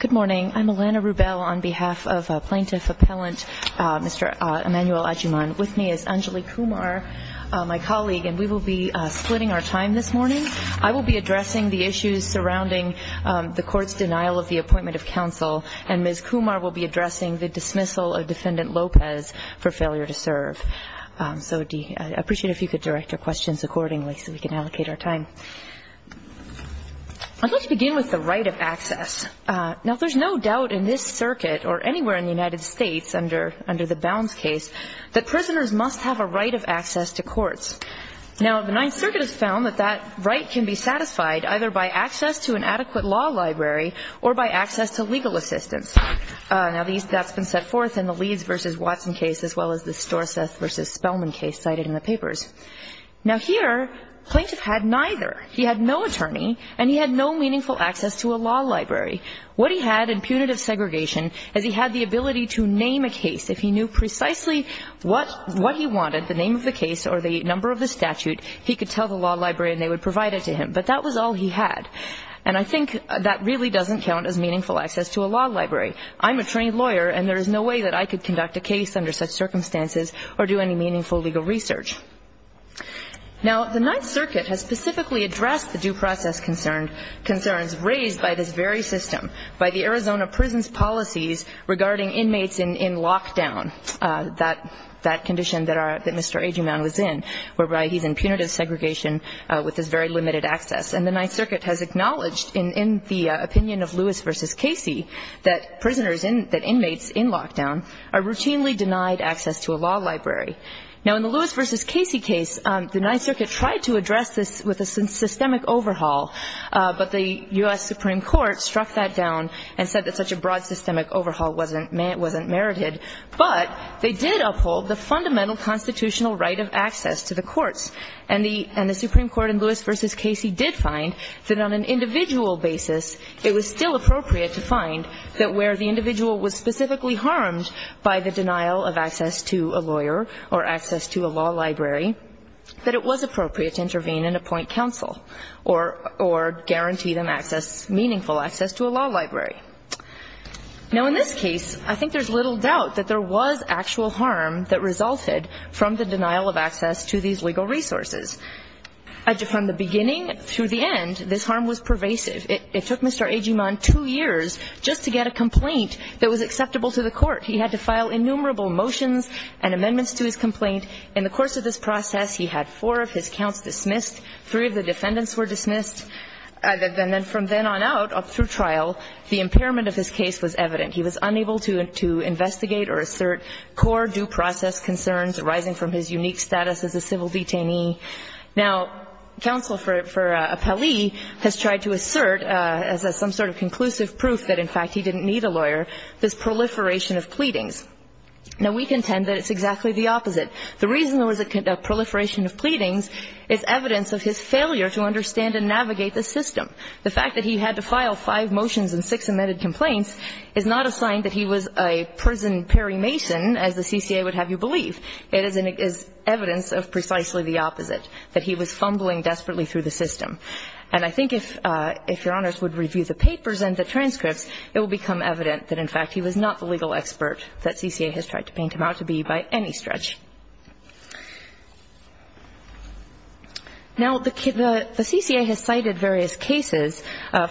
Good morning. I'm Elana Rubel on behalf of Plaintiff Appellant Mr. Emanuel Agyeman. With me is Anjali Kumar, my colleague, and we will be splitting our time this morning. I will be addressing the issues surrounding the court's denial of the appointment of counsel, and Ms. Kumar will be addressing the dismissal of Defendant Lopez for failure to serve. So I'd appreciate it if you could direct your questions accordingly so we can allocate our time. I'd like to begin with the right of access. Now, there's no doubt in this circuit or anywhere in the United States under the Bounds case that prisoners must have a right of access to courts. Now, the Ninth Circuit has found that that right can be satisfied either by access to an adequate law library or by access to legal assistance. Now, that's been set forth in the Leeds v. Watson case as well as the Storseth v. Spellman case cited in the papers. Now here, plaintiff had neither. He had no attorney and he had no meaningful access to a law library. What he had in punitive segregation is he had the ability to name a case. If he knew precisely what he wanted, the name of the case or the number of the statute, he could tell the law library and they would provide it to him. But that was all he had. And I think that really doesn't count as meaningful access to a law library. I'm a trained lawyer and there is no way that I could conduct a case under such circumstances or do any meaningful legal research. Now, the Ninth Circuit has specifically addressed the due process concerns raised by this very system, by the Arizona prison's policies regarding inmates in lockdown, that condition that Mr. Agerman was in, whereby he's in punitive segregation with this very limited access. And the Ninth Circuit has acknowledged in the opinion of Lewis v. Casey that prisoners, that inmates in lockdown are routinely denied access to a law library. Now, in the Lewis v. Casey case, the Ninth Circuit tried to address this with a systemic overhaul, but the U.S. Supreme Court struck that down and said that such a broad systemic overhaul wasn't merited. But they did uphold the fundamental constitutional right of access to the courts. And the Supreme Court in Lewis v. Casey did find that on an individual basis, it was still appropriate to find that where the individual was specifically harmed by the denial of access to a lawyer or access to a law library, that it was appropriate to intervene and appoint counsel or guarantee them meaningful access to a law library. Now, in this case, I think there's little doubt that there was actual harm that resulted from the denial of access to these legal resources. From the beginning through the end, this harm was pervasive. It took Mr. Agerman two years just to get a complaint that was acceptable to the court. He had to file innumerable motions and amendments to his complaint. In the course of this process, he had four of his counts dismissed. Three of the defendants were dismissed. And then from then on out, up through trial, the impairment of his case was evident. He was unable to investigate or assert core due process concerns arising from his unique status as a civil detainee. Now, counsel for Appellee has tried to assert as some sort of conclusive proof that, in fact, he didn't need a lawyer, this proliferation of pleadings. Now, we contend that it's exactly the opposite. The reason there was a proliferation of pleadings is evidence of his failure to understand and navigate the system. The fact that he had to file five motions and six amended complaints is not a sign that he was a prison Perry Mason, as the CCA would have you believe. It is evidence of precisely the opposite, that he was fumbling desperately through the system. And I think if Your Honors would review the papers and the transcripts, it will become evident that, in fact, he was not the legal expert that CCA has tried to paint him out to be by any stretch. Now, the CCA has cited various cases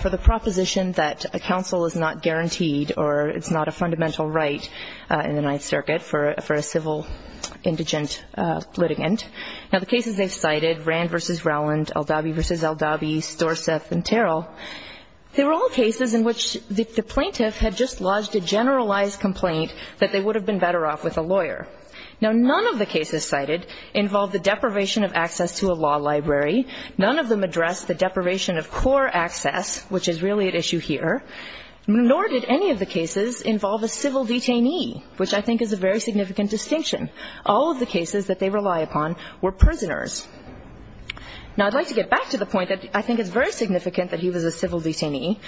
for the proposition that a counsel is not guaranteed or it's not a fundamental right in the Ninth Circuit for a civil indigent litigant. Now, the cases they've cited, Rand v. Rowland, Aldabi v. Aldabi, Storseth and Terrell, they were all cases in which the plaintiff had just lodged a generalized complaint that they would have been better off with a lawyer. Now, none of the cases cited involved the deprivation of access to a law library. None of them addressed the deprivation of core access, which is really at issue here. Nor did any of the cases involve a civil detainee, which I think is a very significant distinction. All of the cases that they rely upon were prisoners. Now, I'd like to get back to the point that I think it's very significant that he was a civil detainee.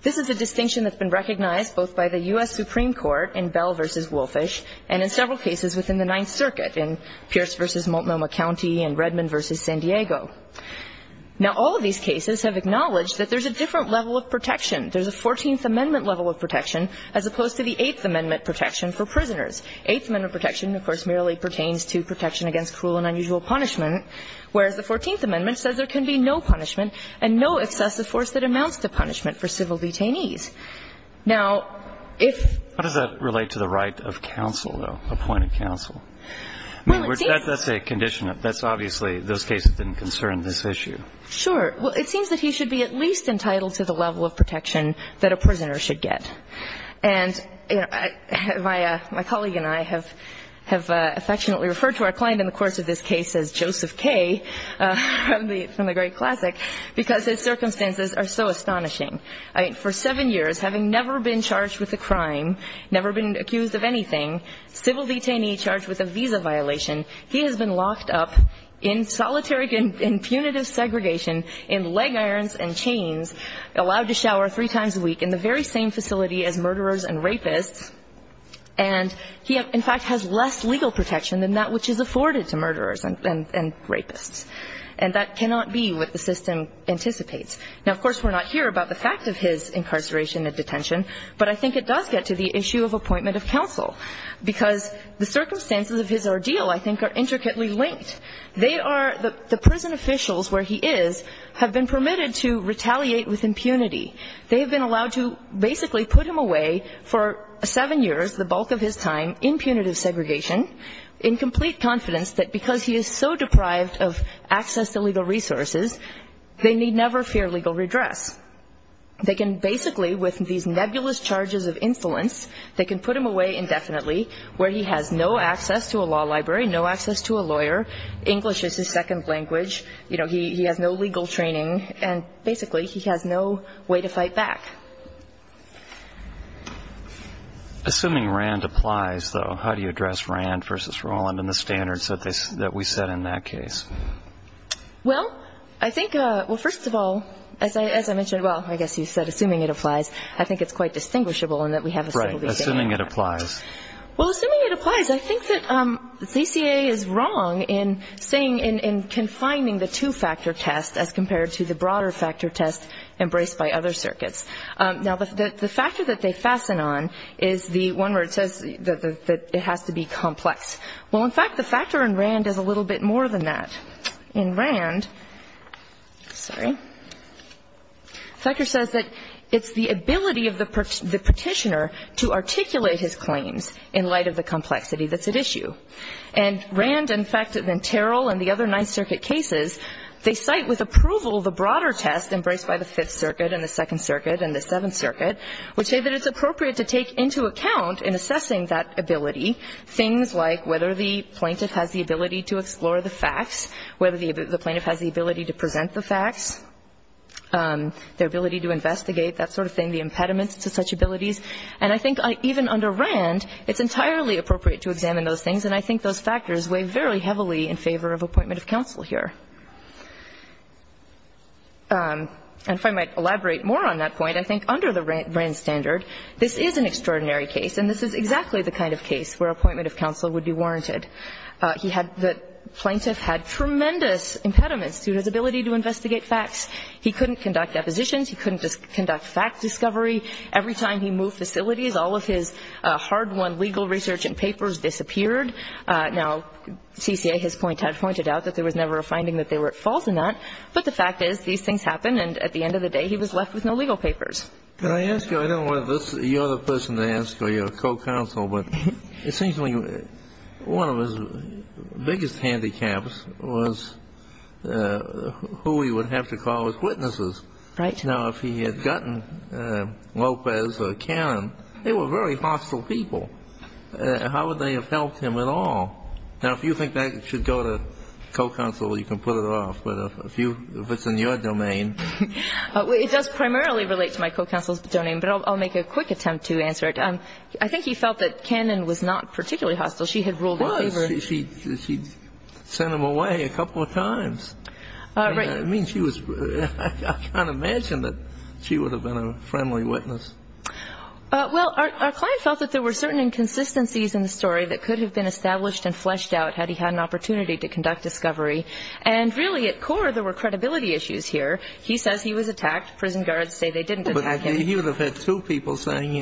This is a distinction that's been recognized both by the U.S. Supreme Court in Bell v. Wolfish and in several cases within the Ninth Circuit in Pierce v. Multnomah County and Redmond v. San Diego. Now, all of these cases have acknowledged that there's a different level of protection. There's a Fourteenth Amendment level of protection as opposed to the Eighth Amendment protection for prisoners. Eighth Amendment protection, of course, merely pertains to protection against cruel and unusual punishment, whereas the Fourteenth Amendment says there can be no punishment and no excessive force that amounts to punishment for civil detainees. Now, if — How does that relate to the right of counsel, though, appointed counsel? Well, it seems — I mean, that's a condition that's obviously — those cases didn't concern this issue. Sure. Well, it seems that he should be at least entitled to the level of protection that a prisoner should get. And, you know, my colleague and I have affectionately referred to our client in the course of this case as Joseph K. from the great classic. Because his circumstances are so astonishing. For seven years, having never been charged with a crime, never been accused of anything, civil detainee charged with a visa violation, he has been locked up in solitary and punitive segregation in leg irons and chains, allowed to shower three times a week in the very same facility as murderers and rapists. And he, in fact, has less legal protection than that which is afforded to murderers and rapists. And that cannot be what the system anticipates. Now, of course, we're not here about the fact of his incarceration and detention, but I think it does get to the issue of appointment of counsel, because the circumstances of his ordeal, I think, are intricately linked. They are — the prison officials where he is have been permitted to retaliate with impunity. They have been allowed to basically put him away for seven years, the bulk of his time, in punitive segregation, in complete confidence that because he is so deprived of access to legal resources, they need never fear legal redress. They can basically, with these nebulous charges of insolence, they can put him away indefinitely, where he has no access to a law library, no access to a lawyer, English is his second language, you know, he has no legal training, and basically he has no way to fight back. Assuming RAND applies, though, how do you address RAND versus Roland and the standards that we set in that case? Well, I think — well, first of all, as I mentioned — well, I guess you said assuming it applies. I think it's quite distinguishable in that we have a civil DCA on that. Right. Assuming it applies. Well, assuming it applies, I think that the DCA is wrong in saying — in confining the two-factor test as compared to the broader factor test embraced by other circuits. Now, the factor that they fasten on is the one where it says that it has to be complex. Well, in fact, the factor in RAND is a little bit more than that. In RAND — sorry — the factor says that it's the ability of the petitioner to articulate his claims in light of the complexity that's at issue. And RAND, in fact, and then Terrell and the other Ninth Circuit cases, they cite with approval the broader test embraced by the Fifth Circuit and the Second Circuit and the Seventh Circuit, which say that it's appropriate to take into account in assessing that ability things like whether the plaintiff has the ability to explore the facts, whether the plaintiff has the ability to present the facts, their ability to investigate, that sort of thing, the impediments to such abilities. And I think even under RAND, it's entirely appropriate to examine those things, and I think those factors weigh very heavily in favor of appointment of counsel here. And if I might elaborate more on that point, I think under the RAND standard, this is an extraordinary case, and this is exactly the kind of case where appointment of counsel would be warranted. He had — the plaintiff had tremendous impediments to his ability to investigate facts. He couldn't conduct depositions. He couldn't conduct fact discovery. Every time he moved facilities, all of his hard-won legal research and papers disappeared. Now, CCA, his point, had pointed out that there was never a finding that they were at fault in that, but the fact is these things happen, and at the end of the day, he was left with no legal papers. Can I ask you — I don't want this — you're the person to ask, or you're a co-counsel, but it seems to me one of his biggest handicaps was who he would have to call as witnesses. Right. Now, if he had gotten Lopez or Cannon, they were very hostile people. How would they have helped him at all? Now, if you think that should go to co-counsel, you can put it off. But if it's in your domain — It does primarily relate to my co-counsel's domain, but I'll make a quick attempt to answer it. I think he felt that Cannon was not particularly hostile. She had ruled in favor — Well, she'd sent him away a couple of times. Right. I mean, she was — I can't imagine that she would have been a friendly witness. Well, our client felt that there were certain inconsistencies in the story that could have been established and fleshed out had he had an opportunity to conduct discovery. And really, at core, there were credibility issues here. He says he was attacked. Prison guards say they didn't attack him. But he would have had two people saying,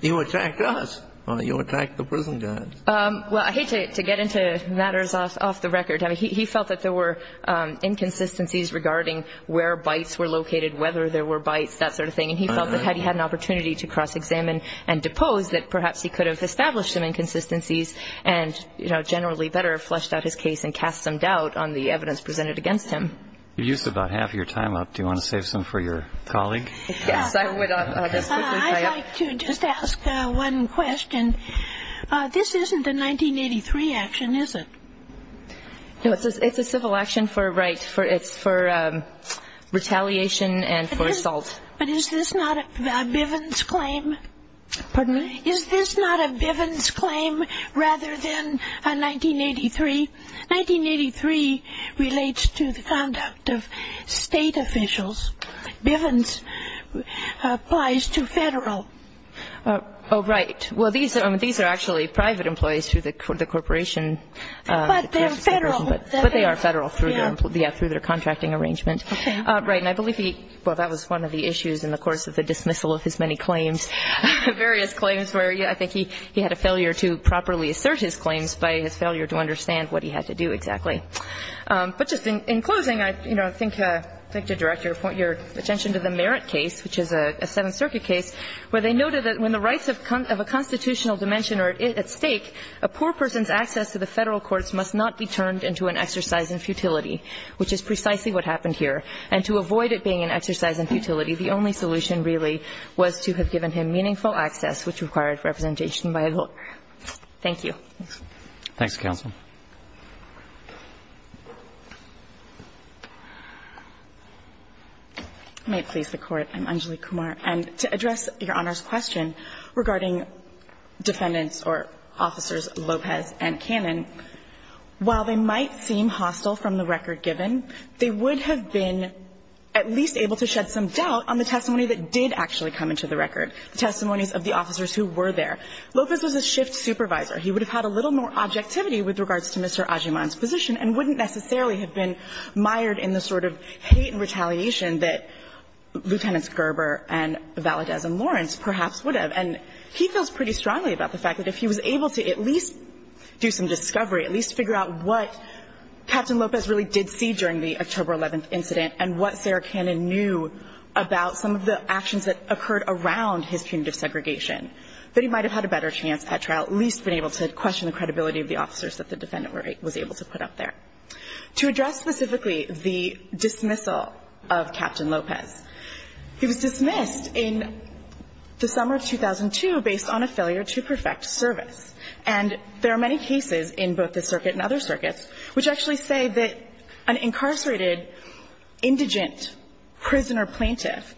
you attacked us, or you attacked the prison guards. Well, I hate to get into matters off the record. I mean, he felt that there were inconsistencies regarding where bites were located, whether there were bites, that sort of thing. And he felt that had he had an opportunity to cross-examine and depose, that perhaps he could have established some inconsistencies and, you know, generally better fleshed out his case and cast some doubt on the evidence presented against him. You used about half your time up. Do you want to save some for your colleague? Yes, I would. I'd like to just ask one question. This isn't a 1983 action, is it? No, it's a civil action for a right. It's for retaliation and for assault. But is this not a Bivens claim? Pardon me? Is this not a Bivens claim rather than a 1983? 1983 relates to the conduct of state officials. Bivens applies to federal. Oh, right. Well, these are actually private employees through the corporation. But they're federal. But they are federal through their contracting arrangement. Okay. Right. And I believe he, well, that was one of the issues in the course of the dismissal of his many claims, various claims where I think he had a failure to properly assert his claims by his failure to understand what he had to do exactly. But just in closing, I'd like to direct your attention to the Merritt case, which is a Seventh Circuit case, where they noted that when the rights of a constitutional dimension are at stake, a poor person's access to the federal courts must not be turned into an exercise in futility, which is precisely what happened here. And to avoid it being an exercise in futility, the only solution really was to have given him meaningful access, which required representation by a lawyer. Thank you. Thanks, counsel. May it please the Court. I'm Anjali Kumar. And to address Your Honor's question regarding defendants or officers Lopez and Cannon, while they might seem hostile from the record given, they would have been at least able to shed some doubt on the testimony that did actually come into the record, the testimonies of the officers who were there. Lopez was a shift supervisor. He would have had a little more objectivity with regards to Mr. Ajiman's position and wouldn't necessarily have been mired in the sort of hate and retaliation that Lieutenants Gerber and Valadez and Lawrence perhaps would have. And he feels pretty strongly about the fact that if he was able to at least do some discovery, at least figure out what Captain Lopez really did see during the October 11th incident and what Sarah Cannon knew about some of the actions that occurred around his punitive segregation, that he might have had a better chance at trial, at least been able to question the credibility of the officers that the defendant was able to put up there. To address specifically the dismissal of Captain Lopez, he was dismissed in the summer of 2002 based on a failure to perfect service. And there are many cases in both this circuit and other circuits which actually say that an incarcerated indigent prisoner plaintiff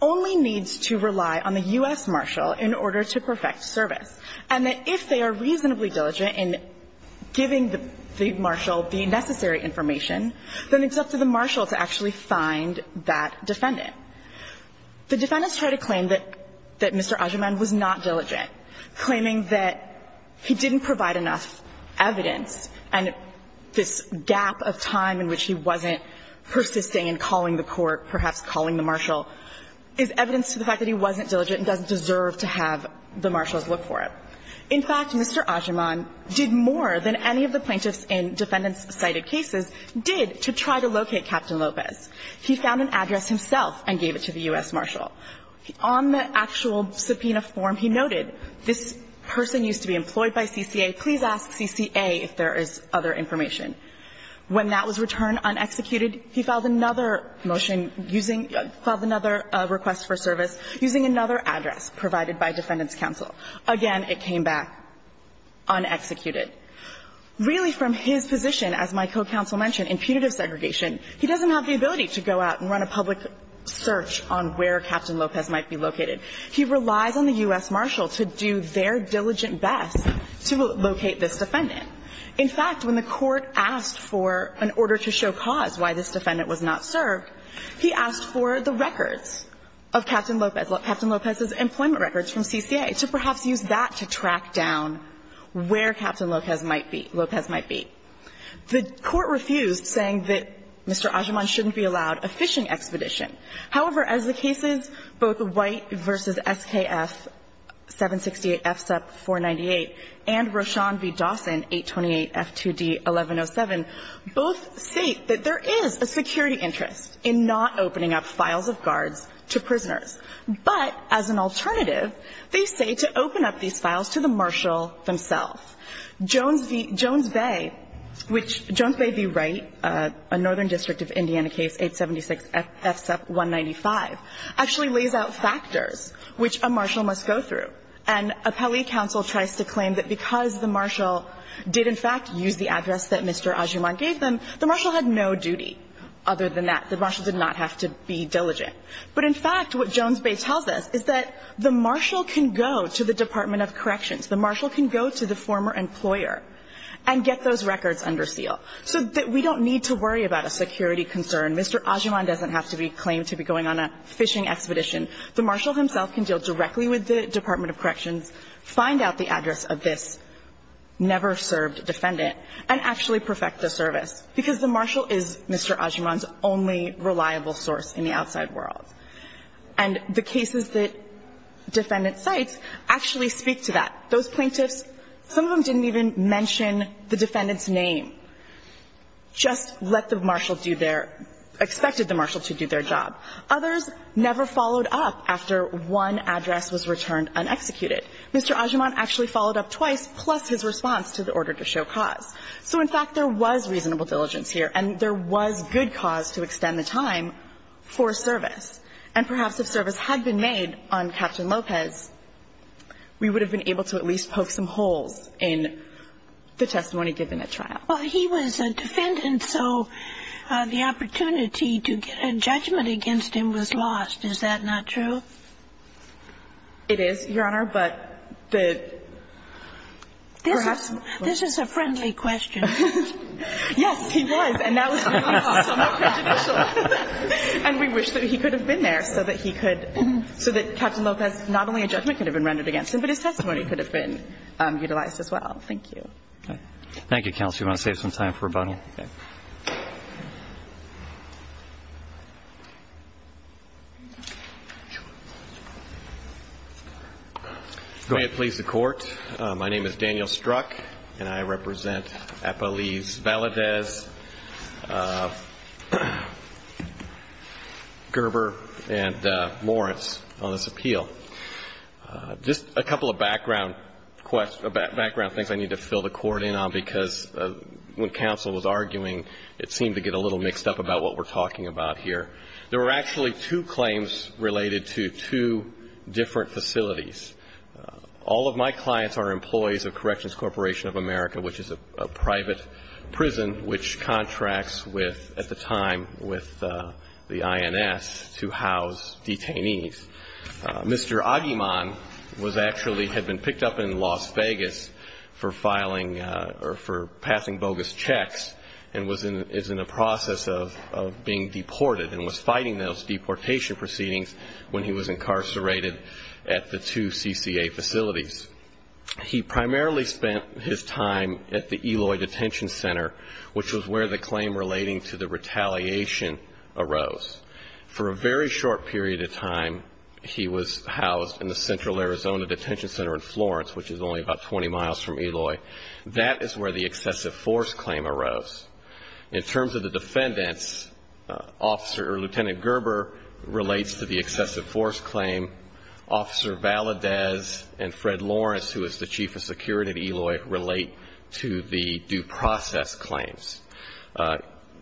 only needs to rely on the U.S. marshal in order to perfect service. And that if they are reasonably diligent in giving the marshal the necessary information, then it's up to the marshal to actually find that defendant. The defendants tried to claim that Mr. Ajiman was not diligent, claiming that he didn't provide enough evidence and this gap of time in which he wasn't persisting and calling the court, perhaps calling the marshal, is evidence to the fact that he wasn't diligent and doesn't deserve to have the marshals look for him. In fact, Mr. Ajiman did more than any of the plaintiffs in defendant-cited cases did to try to locate Captain Lopez. He found an address himself and gave it to the U.S. marshal. On the actual subpoena form, he noted, this person used to be employed by CCA. Please ask CCA if there is other information. When that was returned unexecuted, he filed another motion using – filed another request for service using another address provided by defendants' counsel. Again, it came back unexecuted. Really, from his position, as my co-counsel mentioned, in punitive segregation, he doesn't have the ability to go out and run a public search on where Captain Lopez might be located. He relies on the U.S. marshal to do their diligent best to locate this defendant. In fact, when the court asked for an order to show cause why this defendant was not The court refused, saying that Mr. Ajiman shouldn't be allowed a fishing expedition. However, as the cases, both White v. SKF 768 FSUP 498 and Rochon v. Dawson 828 F2D 1107, both state that there is a security interest in not opening up files of garbage But, as an alternative, they say to open up these files to the marshal themselves. Jones v. Jones Bay, which – Jones Bay v. Wright, a northern district of Indiana case, 876 FSUP 195, actually lays out factors which a marshal must go through. And appellee counsel tries to claim that because the marshal did, in fact, use the address that Mr. Ajiman gave them, the marshal had no duty other than that. The marshal did not have to be diligent. But, in fact, what Jones Bay tells us is that the marshal can go to the Department of Corrections. The marshal can go to the former employer and get those records under seal, so that we don't need to worry about a security concern. Mr. Ajiman doesn't have to be claimed to be going on a fishing expedition. The marshal himself can deal directly with the Department of Corrections, find out the address of this never-served defendant, and actually perfect the service, because the marshal is Mr. Ajiman's only reliable source in the outside world. And the cases that defendants cite actually speak to that. Those plaintiffs, some of them didn't even mention the defendant's name, just let the marshal do their – expected the marshal to do their job. Others never followed up after one address was returned unexecuted. Mr. Ajiman actually followed up twice, plus his response to the order to show cause. So, in fact, there was reasonable diligence here, and there was good cause to extend the time for service. And perhaps if service had been made on Captain Lopez, we would have been able to at least poke some holes in the testimony given at trial. Well, he was a defendant, so the opportunity to get a judgment against him was lost. Is that not true? It is, Your Honor. This is a friendly question. Yes, he was, and that was somewhat prejudicial. And we wish that he could have been there so that he could – so that Captain Lopez, not only a judgment could have been rendered against him, but his testimony could have been utilized as well. Thank you. Thank you, counsel. Do you want to save some time for rebuttal? Yes. Okay. May it please the Court. My name is Daniel Strzok, and I represent Appalese, Valadez, Gerber, and Moritz on this appeal. Just a couple of background things I need to fill the Court in on, because when we're talking about here. There were actually two claims related to two different facilities. All of my clients are employees of Corrections Corporation of America, which is a private prison which contracts with, at the time, with the INS to house detainees. Mr. Aguiman was actually – had been picked up in Las Vegas for filing – or for being deported and was fighting those deportation proceedings when he was incarcerated at the two CCA facilities. He primarily spent his time at the Eloy Detention Center, which was where the claim relating to the retaliation arose. For a very short period of time, he was housed in the Central Arizona Detention Center in Florence, which is only about 20 miles from Eloy. That is where the excessive force claim arose. In terms of the defendants, Officer or Lieutenant Gerber relates to the excessive force claim. Officer Valadez and Fred Lawrence, who is the Chief of Security at Eloy, relate to the due process claims.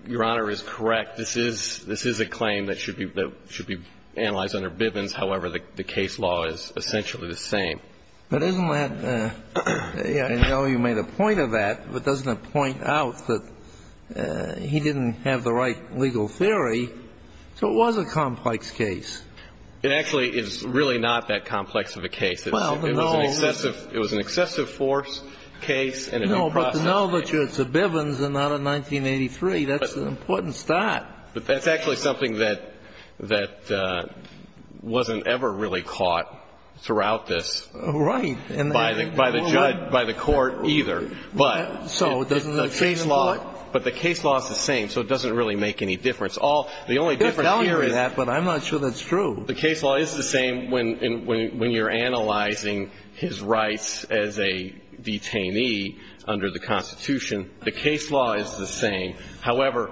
Your Honor is correct. This is a claim that should be analyzed under Bivens. However, the case law is essentially the same. But isn't that – I know you made a point of that, but doesn't it point out that he didn't have the right legal theory? So it was a complex case. It actually is really not that complex of a case. It was an excessive force case and a due process case. No, but to know that it's a Bivens and not a 1983, that's an important start. But that's actually something that wasn't ever really caught throughout this. Right. By the judge, by the court either. But the case law is the same, so it doesn't really make any difference. The only difference here is – But I'm not sure that's true. The case law is the same when you're analyzing his rights as a detainee under the Constitution. The case law is the same. However,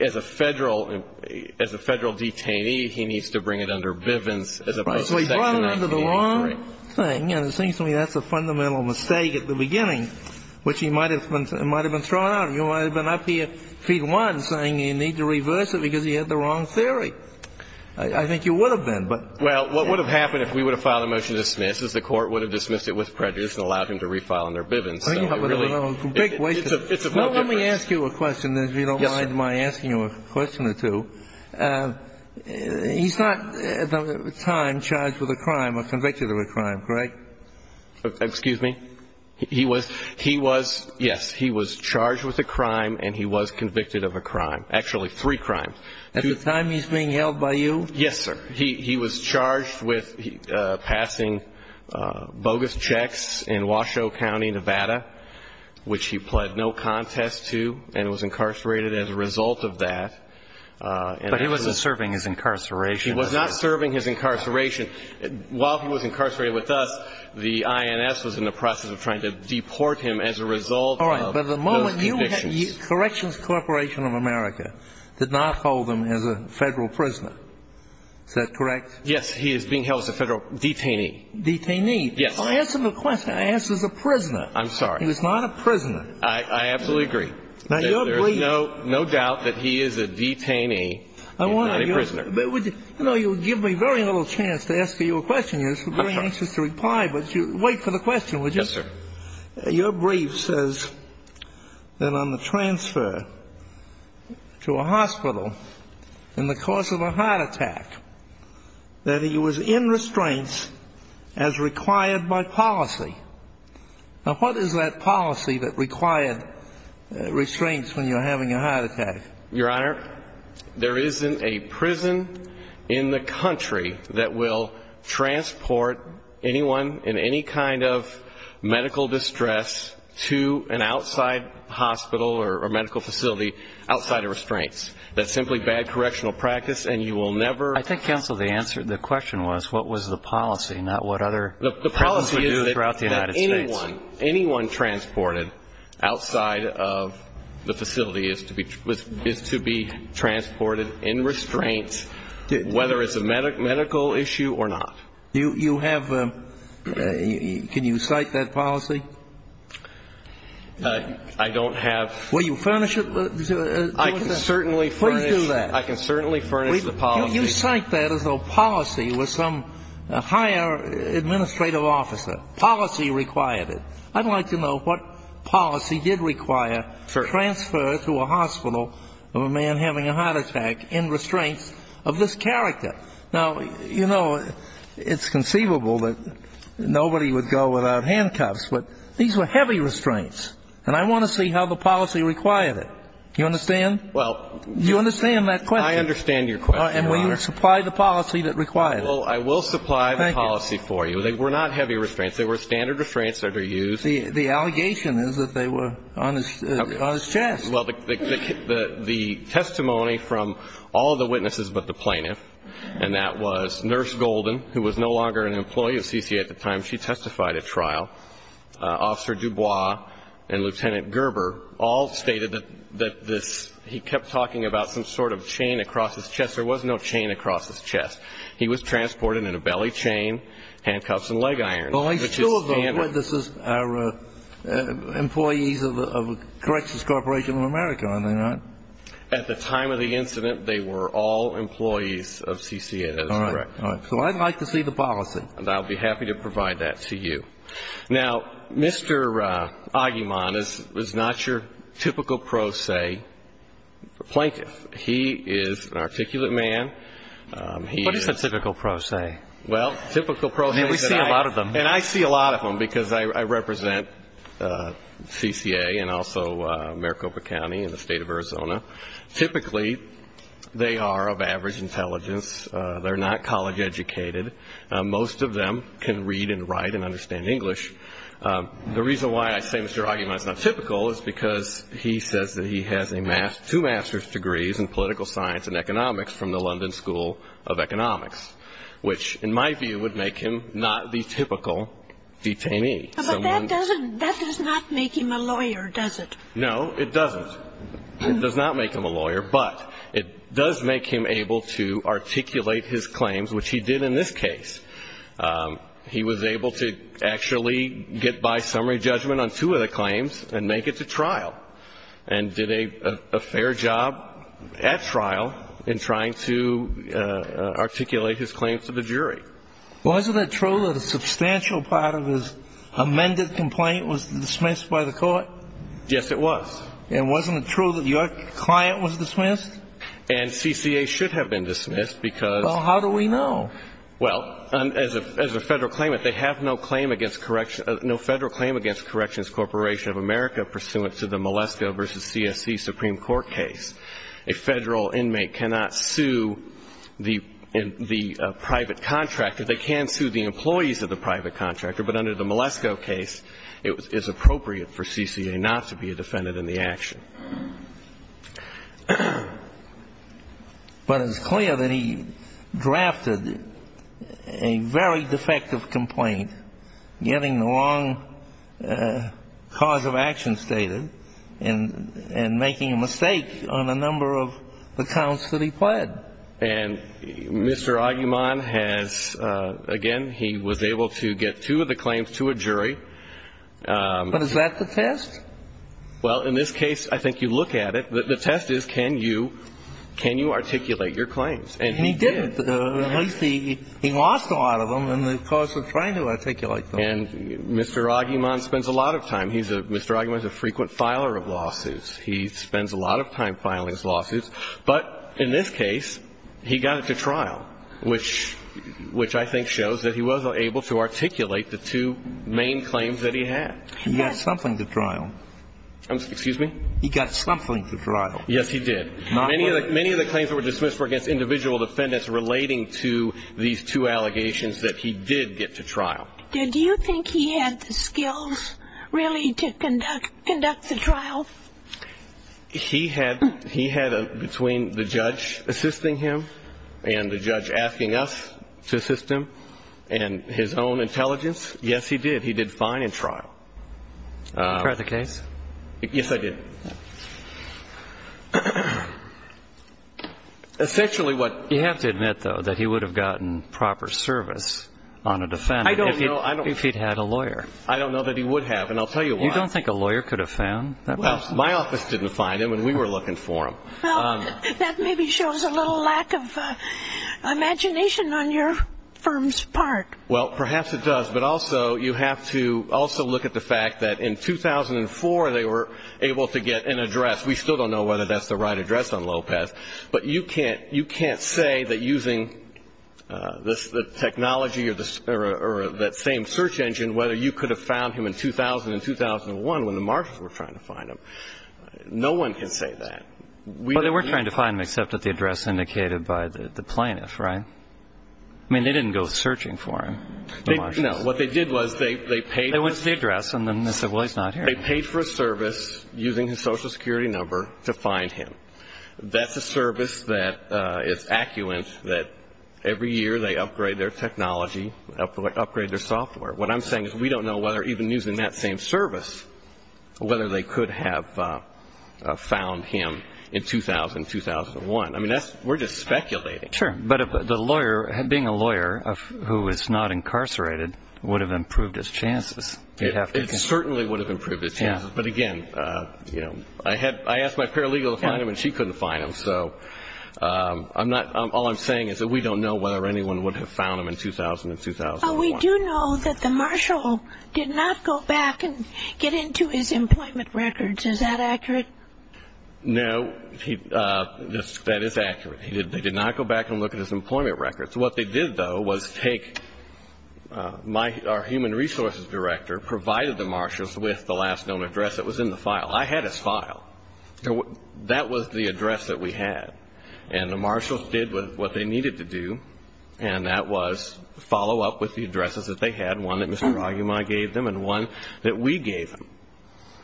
as a Federal – as a Federal detainee, he needs to bring it under Bivens as opposed to 1983. Right. So he brought it under the wrong thing. And it seems to me that's a fundamental mistake at the beginning, which he might have been thrown out. He might have been up here feet one saying you need to reverse it because he had the wrong theory. I think you would have been, but – Well, what would have happened if we would have filed a motion to dismiss is the Court would have dismissed it with prejudice and allowed him to refile under Bivens. So it really – Well, let me ask you a question, if you don't mind my asking you a question or two. He's not, at the time, charged with a crime or convicted of a crime, correct? Excuse me? He was – he was – yes, he was charged with a crime and he was convicted of a crime. Actually, three crimes. At the time he's being held by you? Yes, sir. He was charged with passing bogus checks in Washoe County, Nevada, which he pled no contest to and was incarcerated as a result of that. But he wasn't serving his incarceration. He was not serving his incarceration. While he was incarcerated with us, the INS was in the process of trying to deport him as a result of those convictions. Corrections Corporation of America did not hold him as a Federal prisoner. Is that correct? Yes. He is being held as a Federal detainee. Detainee. Yes. Answer the question. I asked as a prisoner. I'm sorry. He was not a prisoner. I absolutely agree. Now, your brief – There's no doubt that he is a detainee. He's not a prisoner. You know, you give me very little chance to ask you a question. You're very anxious to reply, but you – wait for the question, would you? Yes, sir. Your brief says that on the transfer to a hospital in the course of a heart attack, that he was in restraints as required by policy. Now, what is that policy that required restraints when you're having a heart attack? Your Honor, there isn't a prison in the country that will transport anyone in any kind of medical distress to an outside hospital or medical facility outside of restraints. That's simply bad correctional practice, and you will never – I think, counsel, the answer – the question was what was the policy, not what other – Throughout the United States. Outside of the facility is to be transported in restraints, whether it's a medical issue or not. You have – can you cite that policy? I don't have – Will you furnish it? I can certainly furnish – Please do that. I can certainly furnish the policy. You cite that as though policy was some higher administrative officer. Policy required it. I'd like to know what policy did require transfer to a hospital of a man having a heart attack in restraints of this character. Now, you know, it's conceivable that nobody would go without handcuffs, but these were heavy restraints, and I want to see how the policy required it. Do you understand? Well – Do you understand that question? I understand your question, Your Honor. And will you supply the policy that required it? Well, I will supply the policy for you. Thank you. They were not heavy restraints. They were standard restraints that are used. The allegation is that they were on his chest. Well, the testimony from all of the witnesses but the plaintiff, and that was Nurse Golden, who was no longer an employee of C.C.A. at the time. She testified at trial. Officer Dubois and Lieutenant Gerber all stated that this – he kept talking about some sort of chain across his chest. There was no chain across his chest. He was transported in a belly chain, handcuffs and leg irons. Well, these two of them are employees of Correxus Corporation of America, are they not? At the time of the incident, they were all employees of C.C.A. That is correct. All right. So I'd like to see the policy. And I'll be happy to provide that to you. Now, Mr. Aguiman is not your typical pro se plaintiff. He is an articulate man. What is a typical pro se? Well, typical pro se. We see a lot of them. And I see a lot of them because I represent C.C.A. and also Maricopa County and the state of Arizona. Typically, they are of average intelligence. They're not college educated. Most of them can read and write and understand English. The reason why I say Mr. Aguiman is not typical is because he says that he has two master's degrees in political science and economics from the London School of Economics, which in my view would make him not the typical detainee. But that does not make him a lawyer, does it? No, it doesn't. It does not make him a lawyer. But it does make him able to articulate his claims, which he did in this case. He was able to actually get by summary judgment on two of the claims and make it to trial and did a fair job at trial in trying to articulate his claims to the jury. Wasn't it true that a substantial part of his amended complaint was dismissed by the court? Yes, it was. And wasn't it true that your client was dismissed? And C.C.A. should have been dismissed because... Well, how do we know? Well, as a Federal claimant, they have no claim against Corrections Corporation of America pursuant to the Malesko v. C.S.C. Supreme Court case. A Federal inmate cannot sue the private contractor. They can sue the employees of the private contractor, but under the Malesko case, it is appropriate for C.C.A. not to be a defendant in the action. But it's clear that he drafted a very defective complaint, getting the long cause of action stated and making a mistake on a number of the counts that he pled. And Mr. Agumon has, again, he was able to get two of the claims to a jury. But is that the test? Well, in this case, I think you look at it. The test is can you articulate your claims? And he did. At least he lost a lot of them in the course of trying to articulate them. And Mr. Agumon spends a lot of time. Mr. Agumon is a frequent filer of lawsuits. He spends a lot of time filing his lawsuits. But in this case, he got it to trial, which I think shows that he was able to articulate the two main claims that he had. He got something to trial. Excuse me? He got something to trial. Yes, he did. Many of the claims that were dismissed were against individual defendants relating to these two allegations that he did get to trial. Did you think he had the skills, really, to conduct the trial? He had a between the judge assisting him and the judge asking us to assist him and his own intelligence, yes, he did. But he did fine in trial. Did you try the case? Yes, I did. You have to admit, though, that he would have gotten proper service on a defendant if he'd had a lawyer. I don't know that he would have, and I'll tell you why. You don't think a lawyer could have found that person? My office didn't find him, and we were looking for him. That maybe shows a little lack of imagination on your firm's part. Well, perhaps it does. But also you have to also look at the fact that in 2004 they were able to get an address. We still don't know whether that's the right address on Lopez. But you can't say that using the technology or that same search engine, whether you could have found him in 2000 and 2001 when the marshals were trying to find him. No one can say that. Well, they were trying to find him, except at the address indicated by the plaintiff, right? I mean, they didn't go searching for him. No, what they did was they paid for a service using his Social Security number to find him. That's a service that is accuant that every year they upgrade their technology, upgrade their software. What I'm saying is we don't know whether even using that same service, whether they could have found him in 2000 and 2001. I mean, we're just speculating. Sure, but being a lawyer who is not incarcerated would have improved his chances. It certainly would have improved his chances. But, again, I asked my paralegal to find him and she couldn't find him. So all I'm saying is that we don't know whether anyone would have found him in 2000 and 2001. We do know that the marshal did not go back and get into his employment records. Is that accurate? No, that is accurate. They did not go back and look at his employment records. What they did, though, was take our human resources director, provided the marshals with the last known address that was in the file. I had his file. That was the address that we had. And the marshals did what they needed to do, and that was follow up with the addresses that they had, one that Mr. Ragimai gave them and one that we gave them.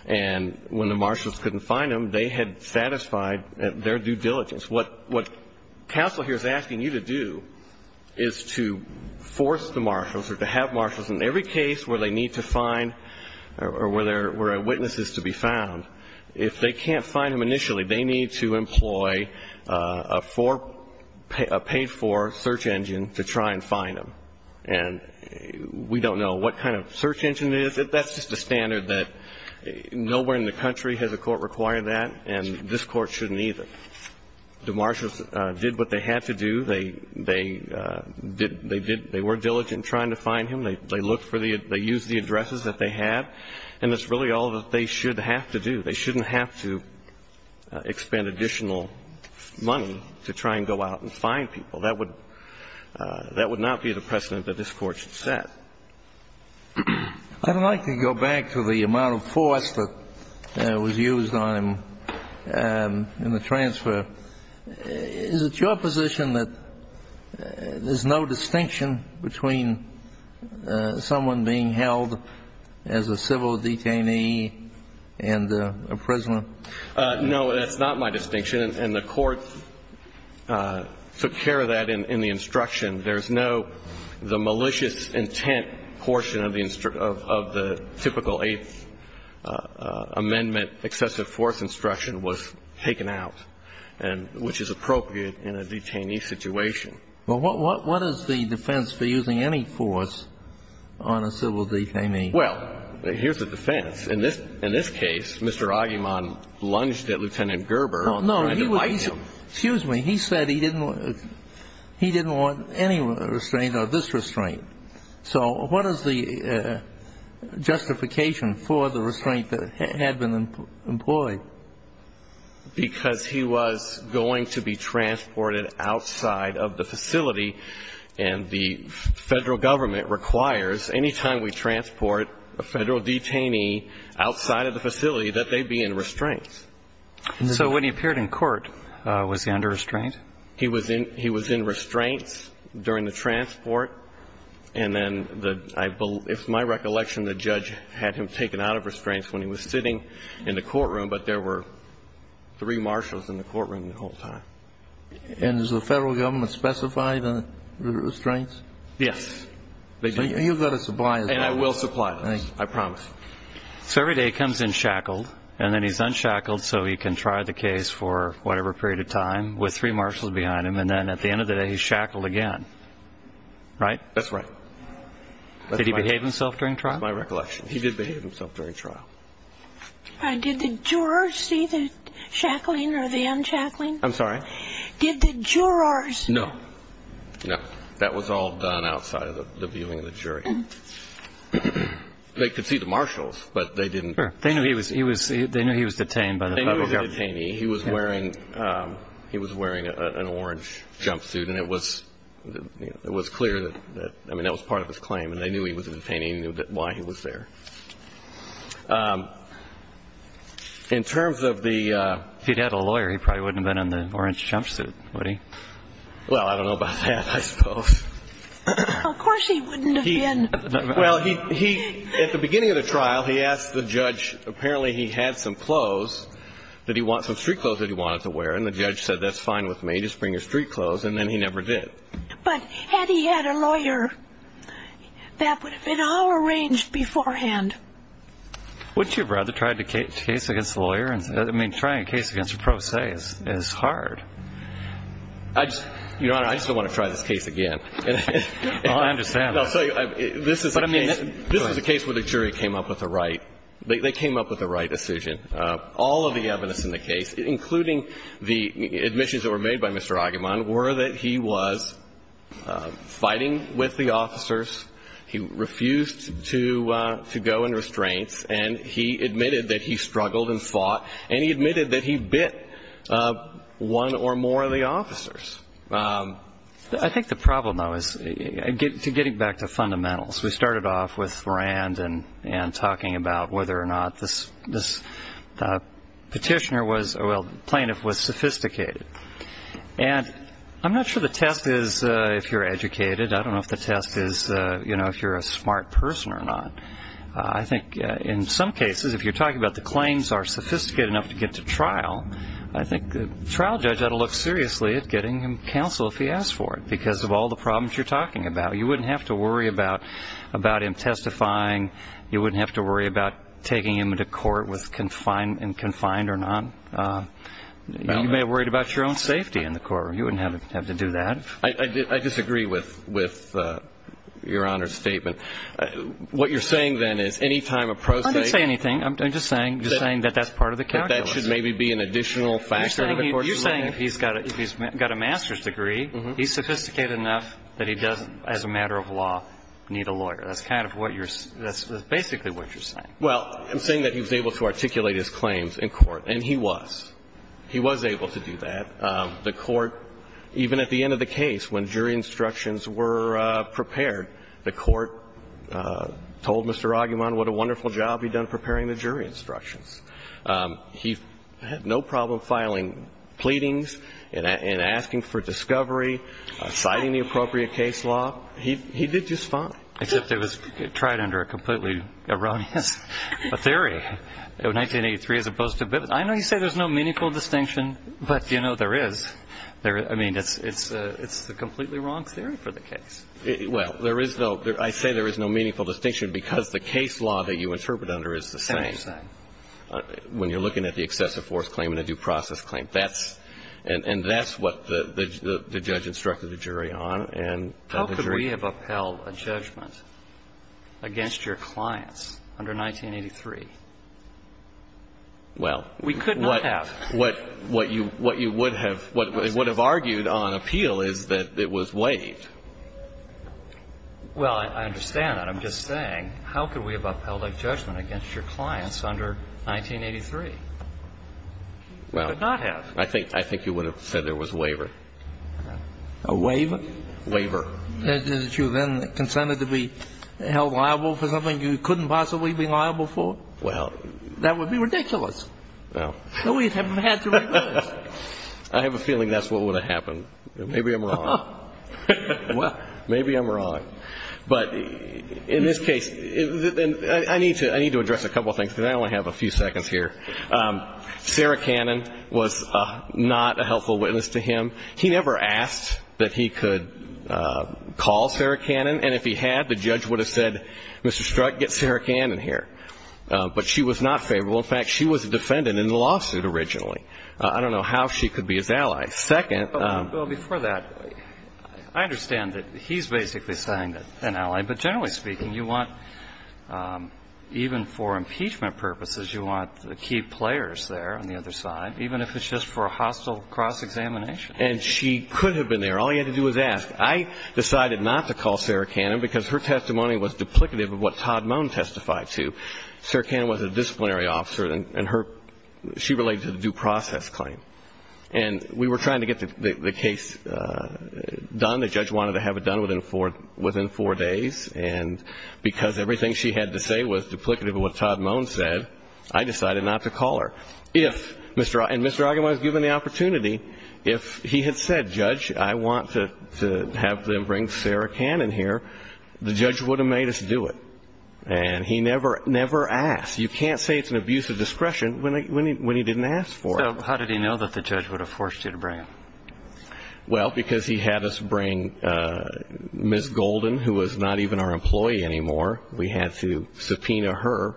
And when the marshals couldn't find him, they had satisfied their due diligence. What counsel here is asking you to do is to force the marshals or to have marshals in every case where they need to find or where a witness is to be found, if they can't find him initially, they need to employ a paid-for search engine to try and find him. And we don't know what kind of search engine it is. That's just a standard that nowhere in the country has a court required that, and this Court shouldn't either. The marshals did what they had to do. They did they were diligent in trying to find him. They looked for the they used the addresses that they had. And that's really all that they should have to do. They shouldn't have to expend additional money to try and go out and find people. That would not be the precedent that this Court should set. I'd like to go back to the amount of force that was used on him in the transfer. Is it your position that there's no distinction between someone being held as a civil detainee and a prisoner? No, that's not my distinction, and the Court took care of that in the instruction. There's no the malicious intent portion of the typical Eighth Amendment excessive force instruction was taken out, which is appropriate in a detainee situation. Well, what is the defense for using any force on a civil detainee? Well, here's the defense. In this case, Mr. Aguiman lunged at Lieutenant Gerber. No, no. Excuse me. He said he didn't want any restraint or this restraint. So what is the justification for the restraint that had been employed? Because he was going to be transported outside of the facility, and the Federal Government requires any time we transport a Federal detainee outside of the facility that they be in restraint. So when he appeared in court, was he under restraint? He was in restraints during the transport, and then I believe my recollection, the judge had him taken out of restraints when he was sitting in the courtroom, but there were three marshals in the courtroom the whole time. And does the Federal Government specify the restraints? Yes. So you've got to supply them. And I will supply them, I promise. So every day he comes in shackled, and then he's unshackled so he can try the case for whatever period of time with three marshals behind him, and then at the end of the day he's shackled again, right? That's right. Did he behave himself during trial? That's my recollection. He did behave himself during trial. Did the jurors see the shackling or the unshackling? I'm sorry? Did the jurors? No, no. That was all done outside of the viewing of the jury. They could see the marshals, but they didn't. Sure. They knew he was detained by the Federal Government. They knew he was a detainee. He was wearing an orange jumpsuit, and it was clear that, I mean, that was part of his claim, and they knew he was a detainee and they knew why he was there. In terms of the ---- If he'd had a lawyer, he probably wouldn't have been in the orange jumpsuit, would he? Well, I don't know about that, I suppose. Of course he wouldn't have been. Well, at the beginning of the trial, he asked the judge, apparently he had some clothes that he wanted, some street clothes that he wanted to wear, and the judge said, that's fine with me, just bring your street clothes, and then he never did. But had he had a lawyer, that would have been all arranged beforehand. Wouldn't you have rather tried a case against a lawyer? I mean, trying a case against a pro se is hard. Your Honor, I just don't want to try this case again. I understand. This is a case where the jury came up with a right. They came up with the right decision. All of the evidence in the case, including the admissions that were made by Mr. Aguiman, were that he was fighting with the officers, he refused to go in restraints, and he admitted that he struggled and fought, and he admitted that he bit one or more of the officers. I think the problem, though, is getting back to fundamentals. We started off with Rand and talking about whether or not this petitioner was, well, plaintiff was sophisticated. And I'm not sure the test is if you're educated. I don't know if the test is if you're a smart person or not. But I think in some cases, if you're talking about the claims are sophisticated enough to get to trial, I think the trial judge ought to look seriously at getting him counsel if he asks for it, because of all the problems you're talking about. You wouldn't have to worry about him testifying. You wouldn't have to worry about taking him into court and confined or not. You may have worried about your own safety in the court room. You wouldn't have to do that. I disagree with Your Honor's statement. What you're saying, then, is any time a prosecutor ---- I didn't say anything. I'm just saying that that's part of the calculus. But that should maybe be an additional factor in the court's ruling. You're saying if he's got a master's degree, he's sophisticated enough that he doesn't, as a matter of law, need a lawyer. That's kind of what you're saying. That's basically what you're saying. Well, I'm saying that he was able to articulate his claims in court, and he was. He was able to do that. The court, even at the end of the case, when jury instructions were prepared, the court told Mr. Aguiman what a wonderful job he'd done preparing the jury instructions. He had no problem filing pleadings and asking for discovery, citing the appropriate case law. He did just fine. Except it was tried under a completely erroneous theory, 1983 as opposed to ---- I know you say there's no meaningful distinction, but, you know, there is. I mean, it's the completely wrong theory for the case. Well, there is no ---- I say there is no meaningful distinction because the case law that you interpret under is the same. When you're looking at the excessive force claim and the due process claim, that's ---- and that's what the judge instructed the jury on. And the jury ---- How could we have upheld a judgment against your clients under 1983? Well, what you would have argued on appeal is that it was weighed. Well, I understand that. I'm just saying, how could we have upheld a judgment against your clients under 1983? I did not have. I think you would have said there was a waiver. A waiver? Waiver. That you then consented to be held liable for something you couldn't possibly be liable for? Well, that would be ridiculous. No. No, we haven't had to do that. I have a feeling that's what would have happened. Maybe I'm wrong. Well, maybe I'm wrong. But in this case, I need to address a couple of things, because I only have a few seconds here. Sarah Cannon was not a helpful witness to him. He never asked that he could call Sarah Cannon. And if he had, the judge would have said, Mr. Strutt, get Sarah Cannon here. But she was not favorable. In fact, she was a defendant in the lawsuit originally. I don't know how she could be his ally. Second. Well, before that, I understand that he's basically saying an ally. But generally speaking, you want, even for impeachment purposes, you want the key players there on the other side, even if it's just for a hostile cross-examination. And she could have been there. All he had to do was ask. I decided not to call Sarah Cannon because her testimony was duplicative of what Todd Moen testified to. Sarah Cannon was a disciplinary officer, and her ‑‑ she related to the due process claim. And we were trying to get the case done. The judge wanted to have it done within four days. And because everything she had to say was duplicative of what Todd Moen said, I decided not to call her. If Mr. Ogilvie was given the opportunity, if he had said, Judge, I want to have them bring Sarah Cannon here, the judge would have made us do it. And he never asked. You can't say it's an abuse of discretion when he didn't ask for it. So how did he know that the judge would have forced you to bring him? Well, because he had us bring Ms. Golden, who was not even our employee anymore. We had to subpoena her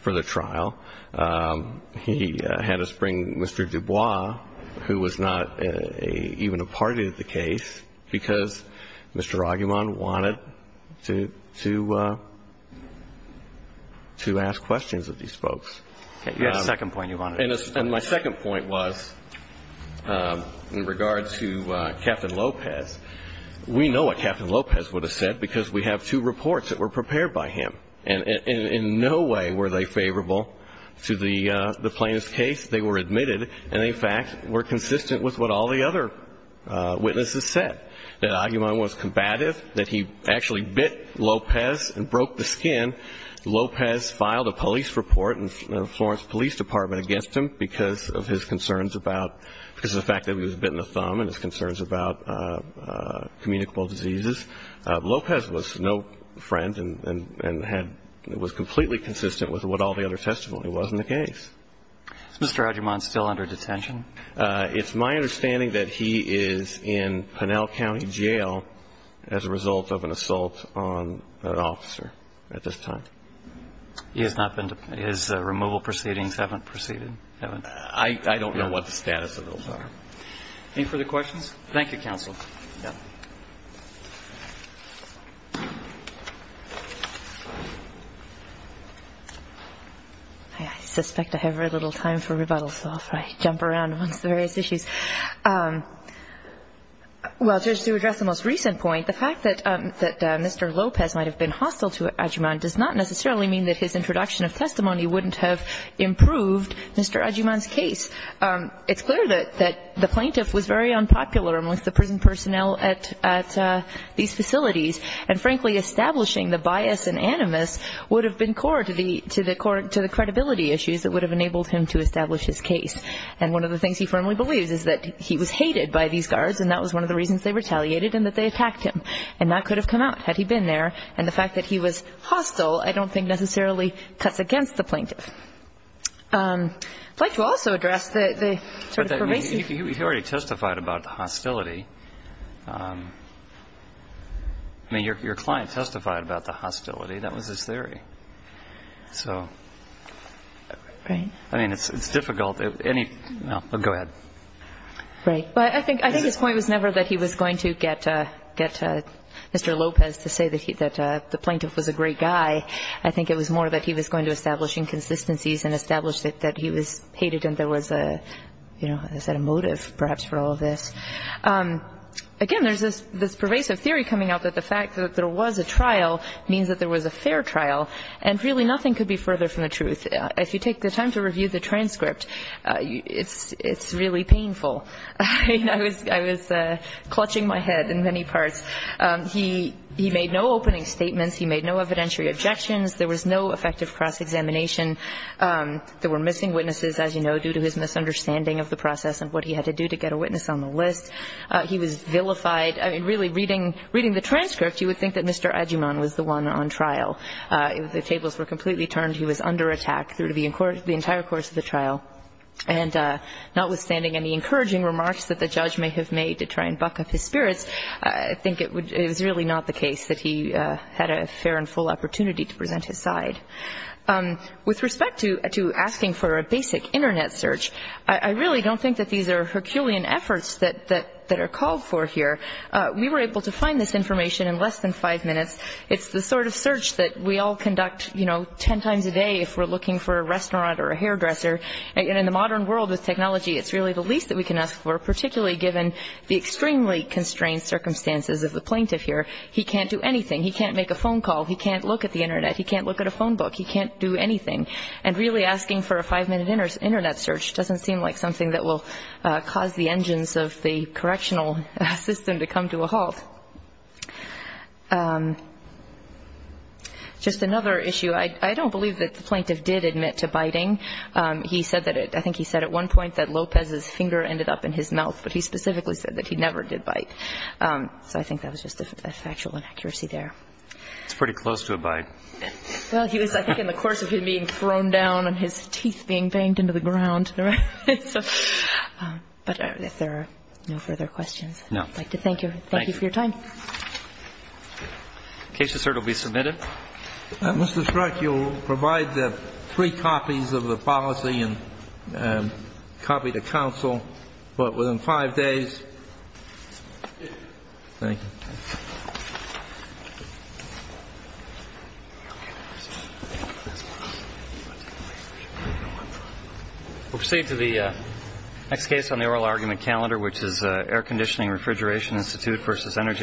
for the trial. He had us bring Mr. Dubois, who was not even a party to the case, because Mr. Ogilvie wanted to ask questions of these folks. You had a second point you wanted to make. And my second point was in regards to Captain Lopez. We know what Captain Lopez would have said, because we have two reports that were prepared by him. And in no way were they favorable to the plaintiff's case. They were admitted. And, in fact, were consistent with what all the other witnesses said, that Aguiman was combative, that he actually bit Lopez and broke the skin. Lopez filed a police report in the Florence Police Department against him because of his concerns about the fact that he was bit in the thumb and his concerns about communicable diseases. Lopez was no friend and was completely consistent with what all the other testimony was in the case. Is Mr. Aguiman still under detention? It's my understanding that he is in Pinel County Jail as a result of an assault on an officer at this time. His removal proceedings haven't proceeded? I don't know what the status of those are. Any further questions? Thank you, counsel. I suspect I have a little time for rebuttals, so I'll jump around on various issues. Well, just to address the most recent point, the fact that Mr. Lopez might have been hostile to Aguiman does not necessarily mean that his introduction of testimony wouldn't have improved Mr. Aguiman's case. It's clear that the plaintiff was very unpopular amongst the prison personnel at these facilities, and, frankly, establishing the bias and animus would have been core to the credibility issues that would have enabled him to establish his case. And one of the things he firmly believes is that he was hated by these guards, and that was one of the reasons they retaliated and that they attacked him. And that could have come out had he been there. And the fact that he was hostile I don't think necessarily cuts against the plaintiff. I'd like to also address the sort of pervasive ---- But you already testified about the hostility. I mean, your client testified about the hostility. That was his theory. So, I mean, it's difficult. Any ---- No. Go ahead. Right. But I think his point was never that he was going to get Mr. Lopez to say that the plaintiff was a great guy. I think it was more that he was going to establish inconsistencies and establish that he was hated and there was a, you know, a motive perhaps for all of this. Again, there's this pervasive theory coming out that the fact that there was a trial means that there was a fair trial. And, really, nothing could be further from the truth. If you take the time to review the transcript, it's really painful. I mean, I was clutching my head in many parts. He made no opening statements. He made no evidentiary objections. There was no effective cross-examination. There were missing witnesses, as you know, due to his misunderstanding of the process and what he had to do to get a witness on the list. He was vilified. I mean, really, reading the transcript, you would think that Mr. Agyeman was the one on trial. The tables were completely turned. He was under attack through the entire course of the trial. And notwithstanding any encouraging remarks that the judge may have made to try and buck up his spirits, I think it was really not the case that he had a fair and full opportunity to present his side. With respect to asking for a basic Internet search, I really don't think that these are Herculean efforts that are called for here. We were able to find this information in less than five minutes. It's the sort of search that we all conduct, you know, ten times a day if we're looking for a restaurant or a hairdresser. And in the modern world with technology, it's really the least that we can ask for, particularly given the extremely constrained circumstances of the plaintiff here. He can't do anything. He can't make a phone call. He can't look at the Internet. He can't look at a phone book. He can't do anything. And really asking for a five-minute Internet search doesn't seem like something that will cause the engines of the correctional system to come to a halt. Just another issue. I don't believe that the plaintiff did admit to biting. I think he said at one point that Lopez's finger ended up in his mouth, but he specifically said that he never did bite. So I think that was just a factual inaccuracy there. It's pretty close to a bite. Well, he was, I think, in the course of him being thrown down and his teeth being banged into the ground. But if there are no further questions, I'd like to thank you. Thank you for your time. The case assert will be submitted. Mr. Schreck, you'll provide three copies of the policy and a copy to counsel, but within five days. Thank you. We'll proceed to the next case on the oral argument calendar, which is Air Conditioning Refrigeration Institute versus Energy.